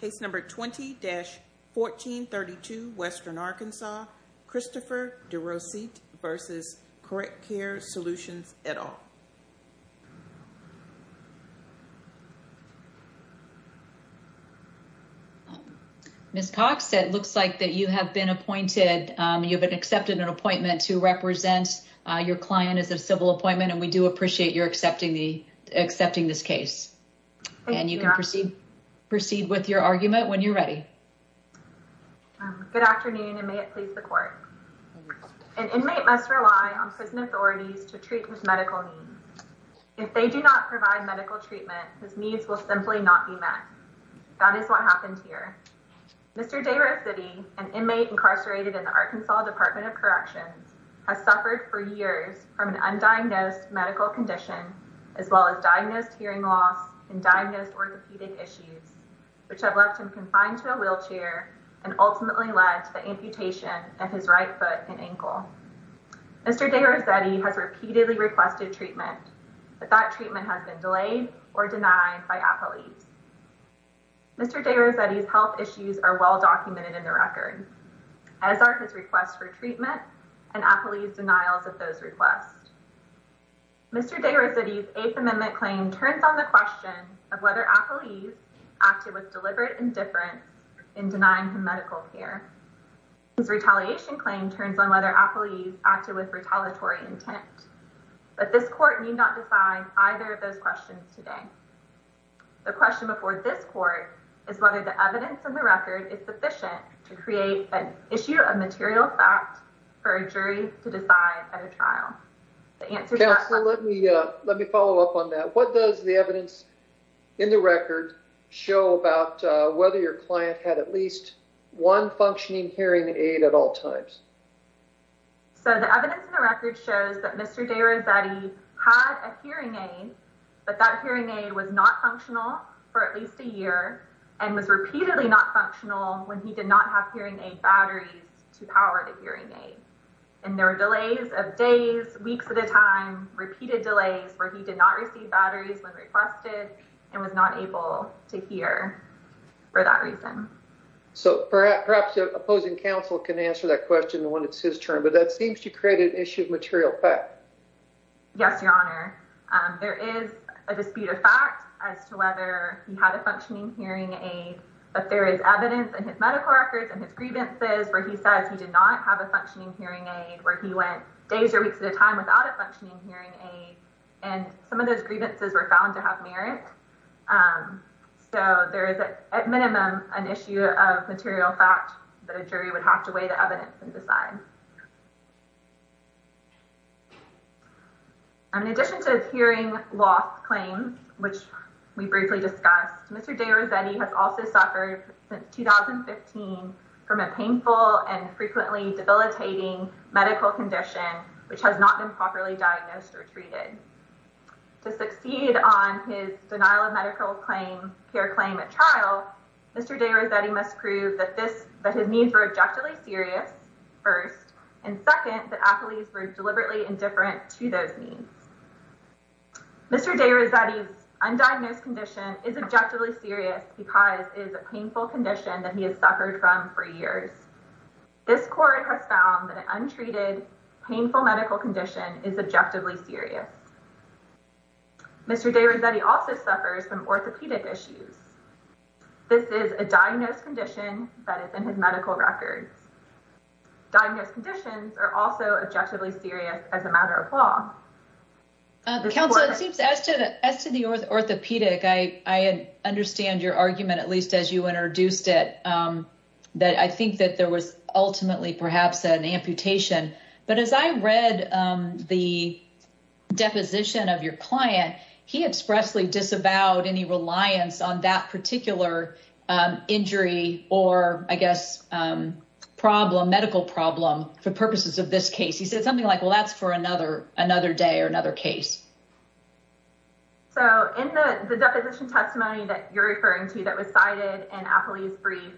Case number 20-1432, Western Arkansas, Christopher De Rossitte v. Correct Care Solutions, et al. Ms. Cox, it looks like that you have been appointed, you've been accepted an appointment to represent your client as a civil appointment, and we do appreciate your accepting this case. And you can proceed with your argument when you're ready. Good afternoon, and may it please the court. An inmate must rely on prison authorities to treat his medical needs. If they do not provide medical treatment, his needs will simply not be met. That is what happened here. Mr. De Rossitte, an inmate incarcerated in the Arkansas Department of Corrections, has suffered for years from an undiagnosed medical condition, as well as diagnosed hearing loss and diagnosed orthopedic issues, which have left him confined to a wheelchair and ultimately led to the amputation of his right foot and ankle. Mr. De Rossitte has repeatedly requested treatment, but that treatment has been delayed or denied by appellees. Mr. De Rossitte's health issues are well documented in the record, as are his requests for treatment and appellees' denials of those requests. Mr. De Rossitte's Eighth Amendment claim turns on the question of whether appellees acted with deliberate indifference in denying him medical care. His retaliation claim turns on whether appellees acted with retaliatory intent. But this court need not decide either of those questions today. The question before this court is whether the evidence in the record is sufficient to create an issue of material fact for a jury to decide at a trial. Counselor, let me follow up on that. What does the evidence in the record show about whether your client had at least one functioning hearing aid at all times? So the evidence in the record shows that Mr. De Rossitte had a hearing aid, but that hearing aid was not functional for at least a year and was repeatedly not functional when he did not have hearing aid batteries to power the hearing aid. And there were delays of days, weeks at a time, repeated delays where he did not receive batteries when requested and was not able to hear for that reason. So perhaps the opposing counsel can answer that question when it's his turn. But that seems to create an issue of material fact. Yes, Your Honor. There is a dispute of fact as to whether he had a functioning hearing aid. But there is evidence in his medical records and his grievances where he says he did not have a functioning hearing aid, where he went days or weeks at a time without a functioning hearing aid. And some of those grievances were found to have merit. So there is, at minimum, an issue of material fact that a jury would have to weigh the evidence and decide. In addition to his hearing loss claims, which we briefly discussed, Mr. De Rossitte has also suffered since 2015 from a painful and frequently debilitating medical condition, which has not been properly diagnosed or treated. To succeed on his denial of medical claim, care claim at trial, Mr. De Rossitte must prove that his needs were objectively serious, first, and second, that athletes were deliberately indifferent to those needs. Mr. De Rossitte's undiagnosed condition is objectively serious because it is a painful condition that he has suffered from for years. This court has found that an untreated, painful medical condition is objectively serious. Mr. De Rossitte also suffers from orthopedic issues. This is a diagnosed condition that is in his medical records. Diagnosed conditions are also objectively serious as a matter of law. Counsel, it seems as to the orthopedic, I understand your argument, at least as you introduced it, that I think that there was ultimately perhaps an amputation. But as I read the deposition of your client, he expressly disavowed any reliance on that particular injury or, I guess, problem, medical problem for purposes of this case. He said something like, well, that's for another another day or another case. So in the deposition testimony that you're referring to that was cited in a police brief,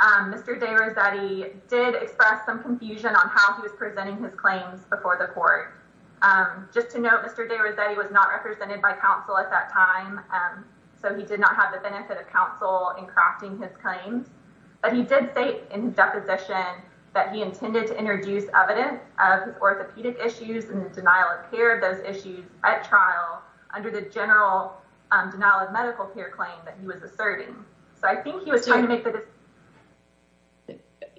Mr. De Rossitte did express some confusion on how he was presenting his claims before the court. Just to note, Mr. De Rossitte was not represented by counsel at that time. So he did not have the benefit of counsel in crafting his claims. But he did state in deposition that he intended to introduce evidence of orthopedic issues and the denial of care of those issues at trial under the general denial of medical care claim that he was asserting. So I think he was trying to make that.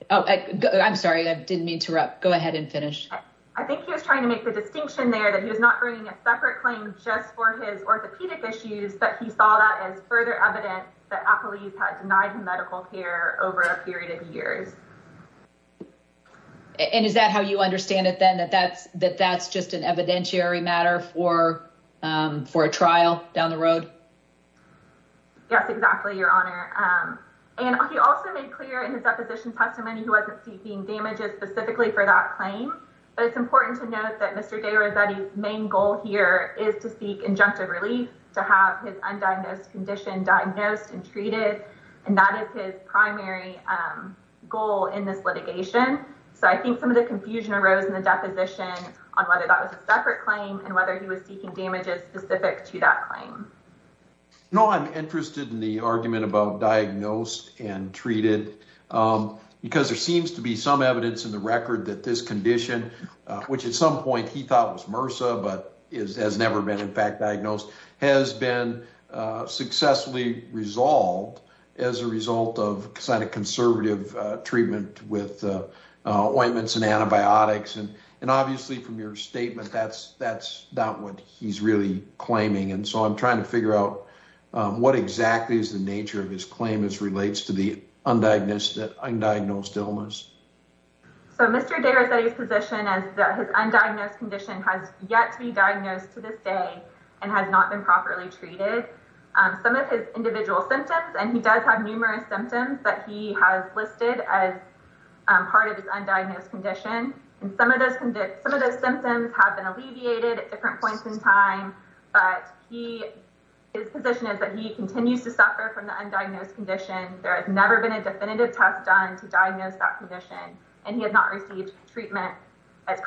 I'm sorry, I didn't mean to interrupt. Go ahead and finish. I think he was trying to make the distinction there that he was not bringing a separate claim just for his orthopedic issues, but he saw that as further evidence that police had denied medical care over a period of years. And is that how you understand it, then, that that's that that's just an evidentiary matter for for a trial down the road? Yes, exactly, Your Honor. And he also made clear in his deposition testimony he wasn't seeking damages specifically for that claim. But it's important to note that Mr. De Rossitte's main goal here is to seek injunctive relief to have his undiagnosed condition diagnosed and treated. And that is his primary goal in this litigation. So I think some of the confusion arose in the deposition on whether that was a separate claim and whether he was seeking damages specific to that claim. No, I'm interested in the argument about diagnosed and treated, because there seems to be some evidence in the record that this condition, which at some point he thought was MRSA, but has never been in fact diagnosed, has been successfully resolved as a result of kind of conservative treatment with ointments and antibiotics. And obviously, from your statement, that's that's not what he's really claiming. And so I'm trying to figure out what exactly is the nature of his claim as relates to the undiagnosed illness. So Mr. De Rossitte's position is that his undiagnosed condition has yet to be diagnosed to this day and has not been properly treated. So I'm trying to figure out what exactly is the nature of his claim as relates to the undiagnosed illness. Some of his individual symptoms and he does have numerous symptoms that he has listed as part of this undiagnosed condition. And some of those some of the symptoms have been alleviated at different points in time. But he is position is that he continues to suffer from the undiagnosed condition. There has never been a definitive test done to diagnose that condition and he has not received treatment as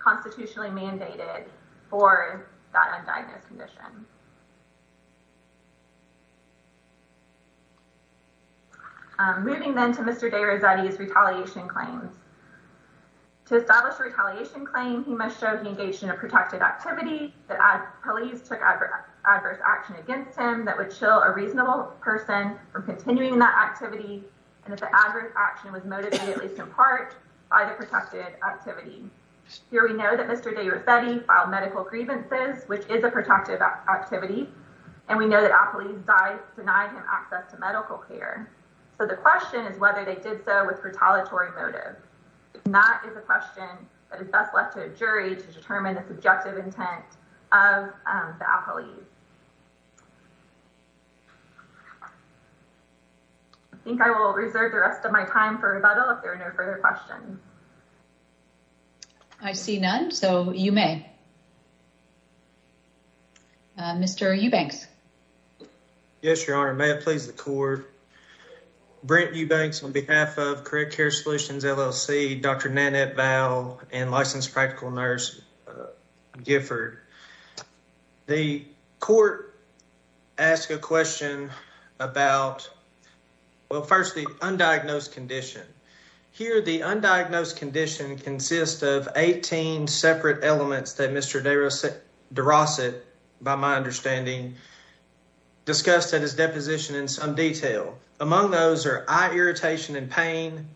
constitutionally mandated for that undiagnosed condition. So I'm trying to figure out what exactly is the nature of his claim as relates to the undiagnosed condition. And some of those some of the symptoms have been alleviated at different points in time. And some of those some of the symptoms have been alleviated as constitutionally mandated for that undiagnosed condition. I think I will reserve the rest of my time for rebuttal if there are no further questions. I see none. So you may. Mr. Eubanks. Yes, Your Honor. May it please the court. Brent Eubanks on behalf of Correct Care Solutions LLC. Dr. Nanette Val and Licensed Practical Nurse Gifford. The court asked a question about, well, first the undiagnosed condition. Here the undiagnosed condition consists of 18 separate elements that Mr. DeRossett, by my understanding, discussed at his deposition in some detail. Among those are eye irritation and pain.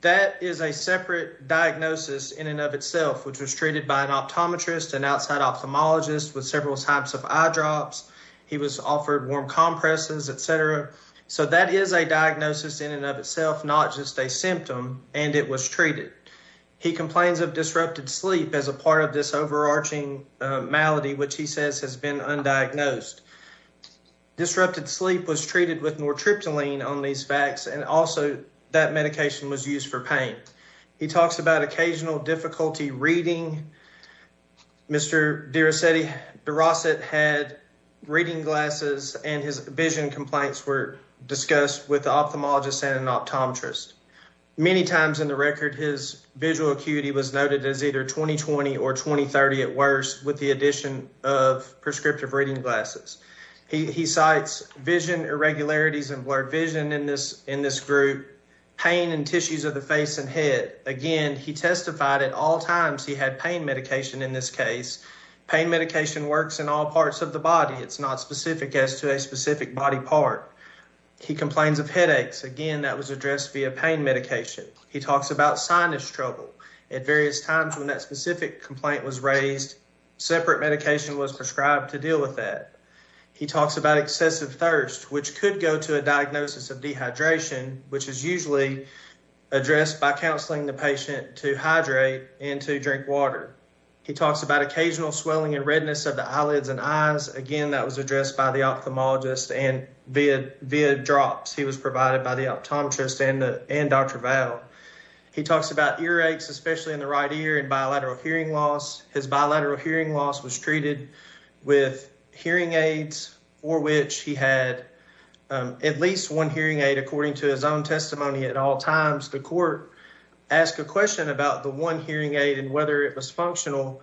That is a separate diagnosis in and of itself, which was treated by an optometrist, an outside ophthalmologist with several types of eye drops. He was offered warm compresses, etc. So that is a diagnosis in and of itself, not just a symptom. And it was treated. He complains of disrupted sleep as a part of this overarching malady, which he says has been undiagnosed. Disrupted sleep was treated with nortriptyline on these facts, and also that medication was used for pain. He talks about occasional difficulty reading. Mr. DeRossett had reading glasses, and his vision complaints were discussed with the ophthalmologist and an optometrist. Many times in the record, his visual acuity was noted as either 20-20 or 20-30 at worst with the addition of prescriptive reading glasses. He cites vision irregularities and blurred vision in this group, pain in tissues of the face and head. Again, he testified at all times he had pain medication in this case. Pain medication works in all parts of the body. It's not specific as to a specific body part. He complains of headaches. Again, that was addressed via pain medication. He talks about sinus trouble. At various times when that specific complaint was raised, separate medication was prescribed to deal with that. He talks about excessive thirst, which could go to a diagnosis of dehydration, which is usually addressed by counseling the patient to hydrate and to drink water. He talks about occasional swelling and redness of the eyelids and eyes. Again, that was addressed by the ophthalmologist and via drops. He was provided by the optometrist and Dr. Val. He talks about earaches, especially in the right ear and bilateral hearing loss. His bilateral hearing loss was treated with hearing aids, for which he had at least one hearing aid, according to his own testimony at all times. The court asked a question about the one hearing aid and whether it was functional.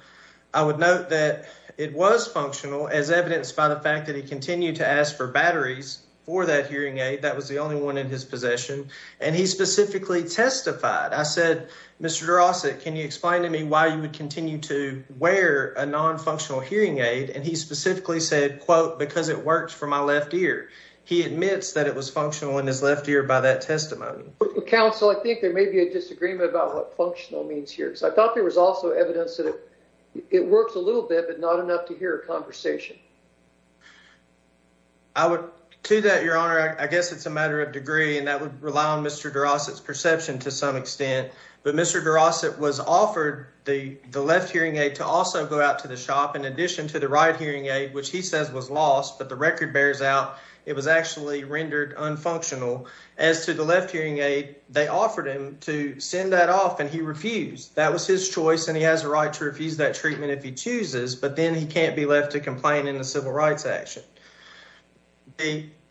I would note that it was functional, as evidenced by the fact that he continued to ask for batteries for that hearing aid. That was the only one in his possession. And he specifically testified. I said, Mr. Drossett, can you explain to me why you would continue to wear a non-functional hearing aid? And he specifically said, quote, because it works for my left ear. He admits that it was functional in his left ear by that testimony. Counsel, I think there may be a disagreement about what functional means here. I thought there was also evidence that it works a little bit, but not enough to hear a conversation. To that, Your Honor, I guess it's a matter of degree, and that would rely on Mr. Drossett's perception to some extent. But Mr. Drossett was offered the left hearing aid to also go out to the shop in addition to the right hearing aid, which he says was lost. But the record bears out it was actually rendered unfunctional. As to the left hearing aid, they offered him to send that off, and he refused. That was his choice, and he has a right to refuse that treatment if he chooses. But then he can't be left to complain in a civil rights action.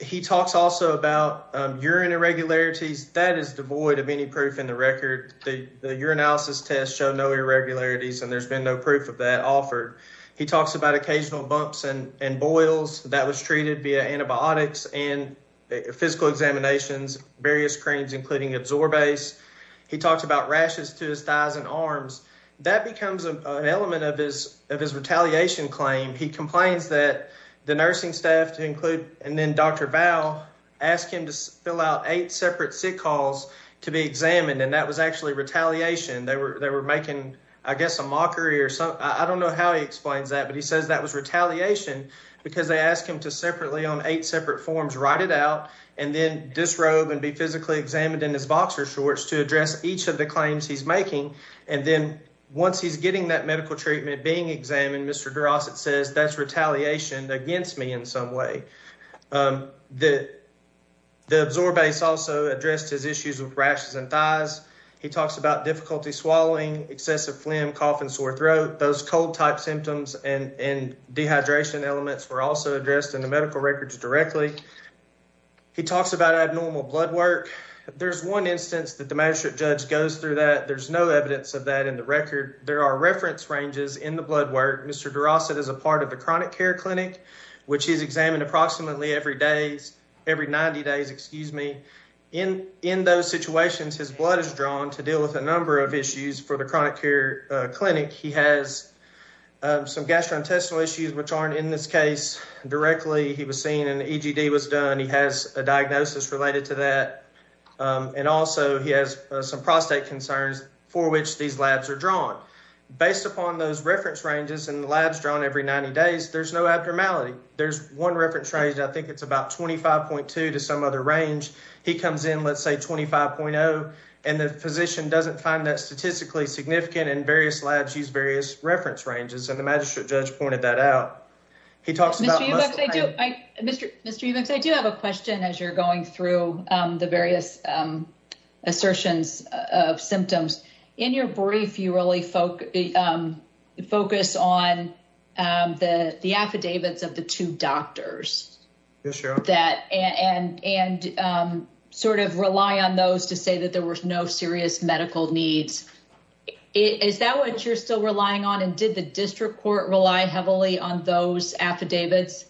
He talks also about urine irregularities. That is devoid of any proof in the record. The urinalysis tests show no irregularities, and there's been no proof of that offered. He talks about occasional bumps and boils that was treated via antibiotics and physical examinations, various creams, including Absorbase. He talks about rashes to his thighs and arms. That becomes an element of his retaliation claim. He complains that the nursing staff, and then Dr. Val, asked him to fill out eight separate sick calls to be examined, and that was actually retaliation. They were making, I guess, a mockery or something. I don't know how he explains that, but he says that was retaliation because they asked him to separately on eight separate forms write it out and then disrobe and be physically examined in his boxer shorts. to address each of the claims he's making. And then once he's getting that medical treatment being examined, Mr. Durosset says that's retaliation against me in some way. The Absorbase also addressed his issues with rashes and thighs. He talks about difficulty swallowing, excessive phlegm, cough, and sore throat. Those cold-type symptoms and dehydration elements were also addressed in the medical records directly. He talks about abnormal blood work. There's one instance that the magistrate judge goes through that. There's no evidence of that in the record. There are reference ranges in the blood work. Mr. Durosset is a part of the chronic care clinic, which he's examined approximately every 90 days. In those situations, his blood is drawn to deal with a number of issues for the chronic care clinic. He has some gastrointestinal issues, which aren't in this case directly. He was seen and an EGD was done. He has a diagnosis related to that, and also he has some prostate concerns for which these labs are drawn. Based upon those reference ranges and the labs drawn every 90 days, there's no abnormality. There's one reference range, and I think it's about 25.2 to some other range. He comes in, let's say 25.0, and the physician doesn't find that statistically significant, and various labs use various reference ranges, and the magistrate judge pointed that out. Mr. Eubanks, I do have a question as you're going through the various assertions of symptoms. In your brief, you really focus on the affidavits of the two doctors and rely on those to say that there were no serious medical needs. Is that what you're still relying on, and did the district court rely heavily on those affidavits?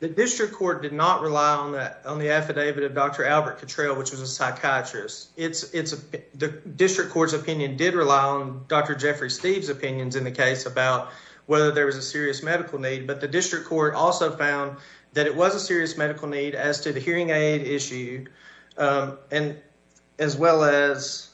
The district court did not rely on the affidavit of Dr. Albert Cottrell, which was a psychiatrist. The district court's opinion did rely on Dr. Jeffrey Steve's opinions in the case about whether there was a serious medical need, but the district court also found that it was a serious medical need as to the hearing aid issue, as well as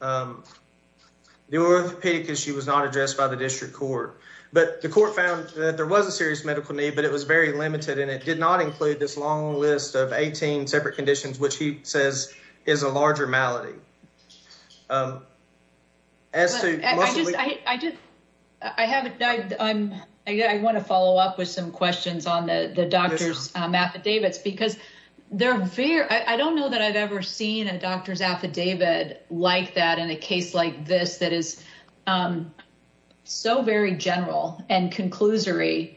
the orthopedic issue was not addressed by the district court. But the court found that there was a serious medical need, but it was very limited, and it did not include this long list of 18 separate conditions, which he says is a larger malady. I want to follow up with some questions on the doctor's affidavits, because I don't know that I've ever seen a doctor's affidavit like that in a case like this, that is so very general and conclusory,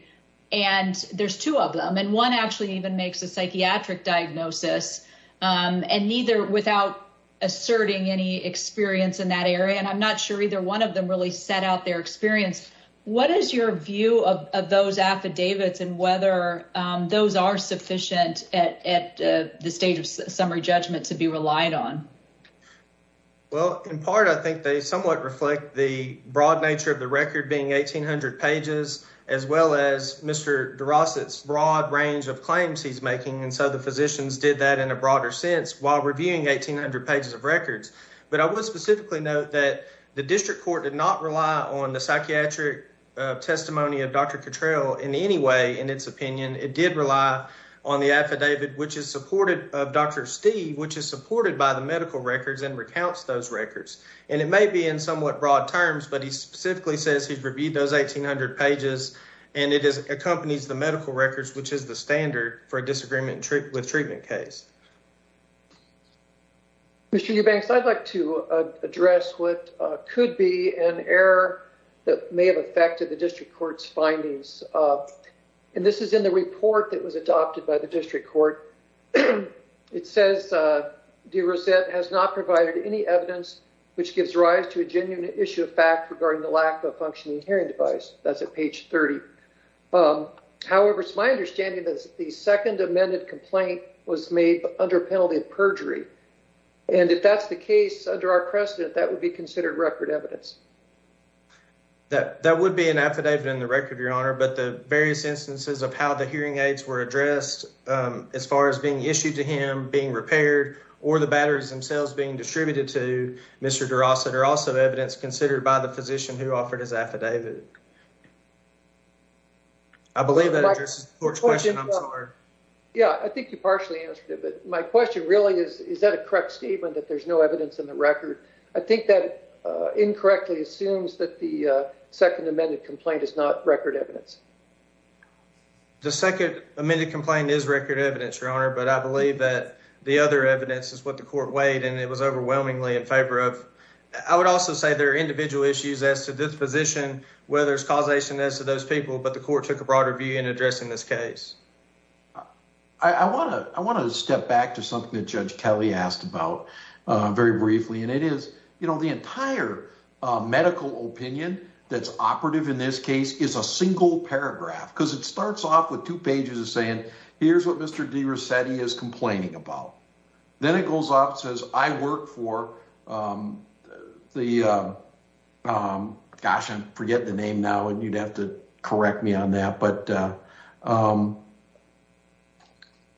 and there's two of them. One actually even makes a psychiatric diagnosis, and neither without asserting any experience in that area, and I'm not sure either one of them really set out their experience. What is your view of those affidavits and whether those are sufficient at the stage of summary judgment to be relied on? Well, in part, I think they somewhat reflect the broad nature of the record being 1,800 pages, as well as Mr. DeRossett's broad range of claims he's making, and so the physicians did that in a broader sense while reviewing 1,800 pages of records. But I would specifically note that the district court did not rely on the psychiatric testimony of Dr. Cottrell in any way, in its opinion. It did rely on the affidavit of Dr. Steve, which is supported by the medical records and recounts those records. And it may be in somewhat broad terms, but he specifically says he's reviewed those 1,800 pages, and it accompanies the medical records, which is the standard for a disagreement with treatment case. Mr. Eubanks, I'd like to address what could be an error that may have affected the district court's findings, and this is in the report that was adopted by the district court. It says DeRossett has not provided any evidence which gives rise to a genuine issue of fact regarding the lack of a functioning hearing device. That's at page 30. However, it's my understanding that the second amended complaint was made under penalty of perjury, and if that's the case under our precedent, that would be considered record evidence. That would be an affidavit in the record, Your Honor, but the various instances of how the hearing aids were addressed as far as being issued to him, being repaired, or the batteries themselves being distributed to Mr. DeRossett are also evidence considered by the physician who offered his affidavit. I believe that addresses the court's question. I'm sorry. Yeah, I think you partially answered it, but my question really is, is that a correct statement that there's no evidence in the record? I think that incorrectly assumes that the second amended complaint is not record evidence. The second amended complaint is record evidence, Your Honor, but I believe that the other evidence is what the court weighed, and it was overwhelmingly in favor of. I would also say there are individual issues as to this position, whether it's causation as to those people, but the court took a broader view in addressing this case. I want to step back to something that Judge Kelly asked about very briefly, and it is the entire medical opinion that's operative in this case is a single paragraph, because it starts off with two pages of saying, here's what Mr. DeRossetti is complaining about. Then it goes off and says, I work for the, gosh, I'm forgetting the name now, and you'd have to correct me on that, but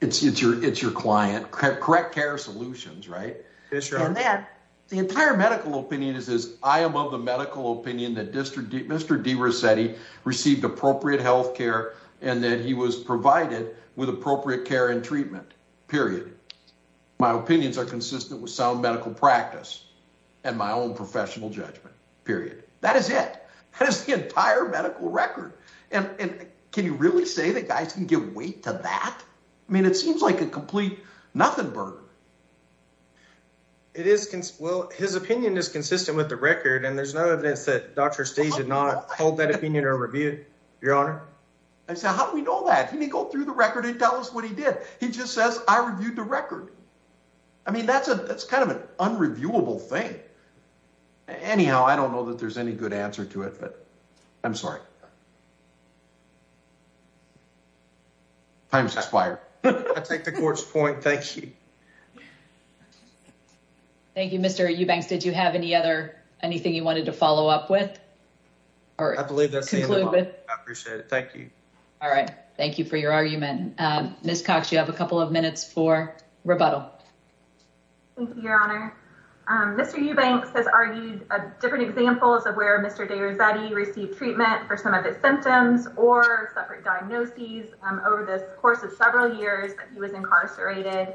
it's your client, Correct Care Solutions, right? Yes, Your Honor. The entire medical opinion is this, I am of the medical opinion that Mr. DeRossetti received appropriate health care and that he was provided with appropriate care and treatment, period. My opinions are consistent with sound medical practice and my own professional judgment, period. That is it. That is the entire medical record, and can you really say that guys can give weight to that? I mean, it seems like a complete nothing burger. It is, well, his opinion is consistent with the record, and there's no evidence that Dr. Steeves did not hold that opinion or review, Your Honor. I said, how do we know that? He didn't go through the record and tell us what he did. He just says, I reviewed the record. I mean, that's kind of an unreviewable thing. Anyhow, I don't know that there's any good answer to it, but I'm sorry. Time's expired. I take the court's point. Thank you. Thank you, Mr. Eubanks. Did you have anything you wanted to follow up with? I believe that's the end of all. I appreciate it. Thank you. All right. Thank you for your argument. Ms. Cox, you have a couple of minutes for rebuttal. Thank you, Your Honor. Mr. Eubanks has argued different examples of where Mr. DeRossetti received treatment for some of his symptoms or separate diagnoses over the course of several years that he was incarcerated.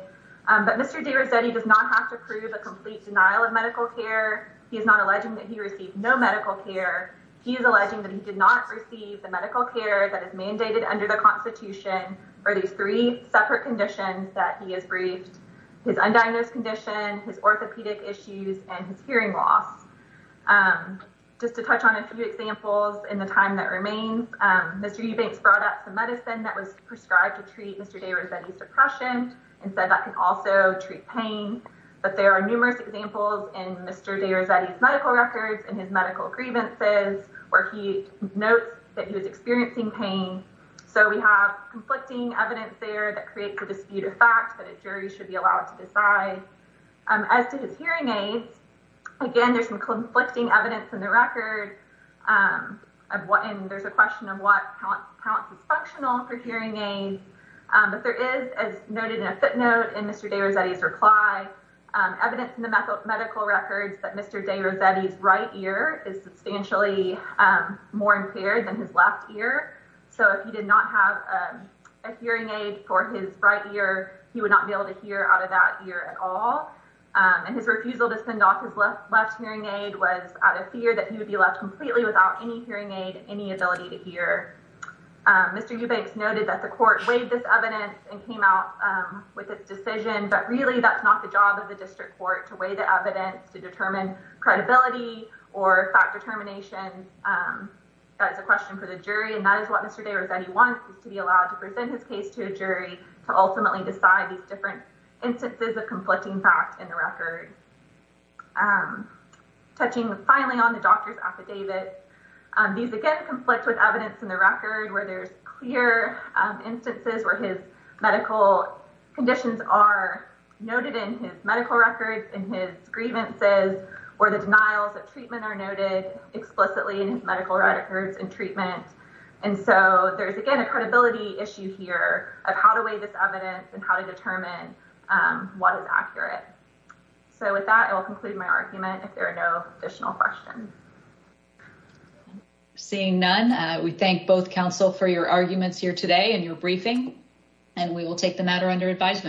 But Mr. DeRossetti does not have to prove a complete denial of medical care. He is not alleging that he received no medical care. He is alleging that he did not receive the medical care that is mandated under the Constitution for these three separate conditions that he is briefed. His undiagnosed condition, his orthopedic issues, and his hearing loss. Just to touch on a few examples in the time that remains, Mr. Eubanks brought up some medicine that was prescribed to treat Mr. DeRossetti's depression and said that could also treat pain. But there are numerous examples in Mr. DeRossetti's medical records and his medical grievances where he notes that he was experiencing pain. So we have conflicting evidence there that creates a dispute of fact that a jury should be allowed to decide. As to his hearing aids, again, there's some conflicting evidence in the record. And there's a question of what counts as functional for hearing aids. But there is, as noted in a footnote in Mr. DeRossetti's reply, evidence in the medical records that Mr. DeRossetti's right ear is substantially more impaired than his left ear. So if he did not have a hearing aid for his right ear, he would not be able to hear out of that ear at all. And his refusal to send off his left hearing aid was out of fear that he would be left completely without any hearing aid, any ability to hear. Mr. Eubanks noted that the court weighed this evidence and came out with its decision. But really, that's not the job of the district court, to weigh the evidence, to determine credibility or fact determination. That is a question for the jury. And that is what Mr. DeRossetti wants, is to be allowed to present his case to a jury to ultimately decide these different instances of conflicting fact in the record. Touching finally on the doctor's affidavit, these, again, conflict with evidence in the record where there's clear instances where his medical conditions are noted in his medical records, in his grievances, or the denials of treatment are noted explicitly in his medical records and treatment. And so there's, again, a credibility issue here of how to weigh this evidence and how to determine what is accurate. So with that, I will conclude my argument if there are no additional questions. Seeing none, we thank both counsel for your arguments here today and your briefing. And we will take the matter under advisement.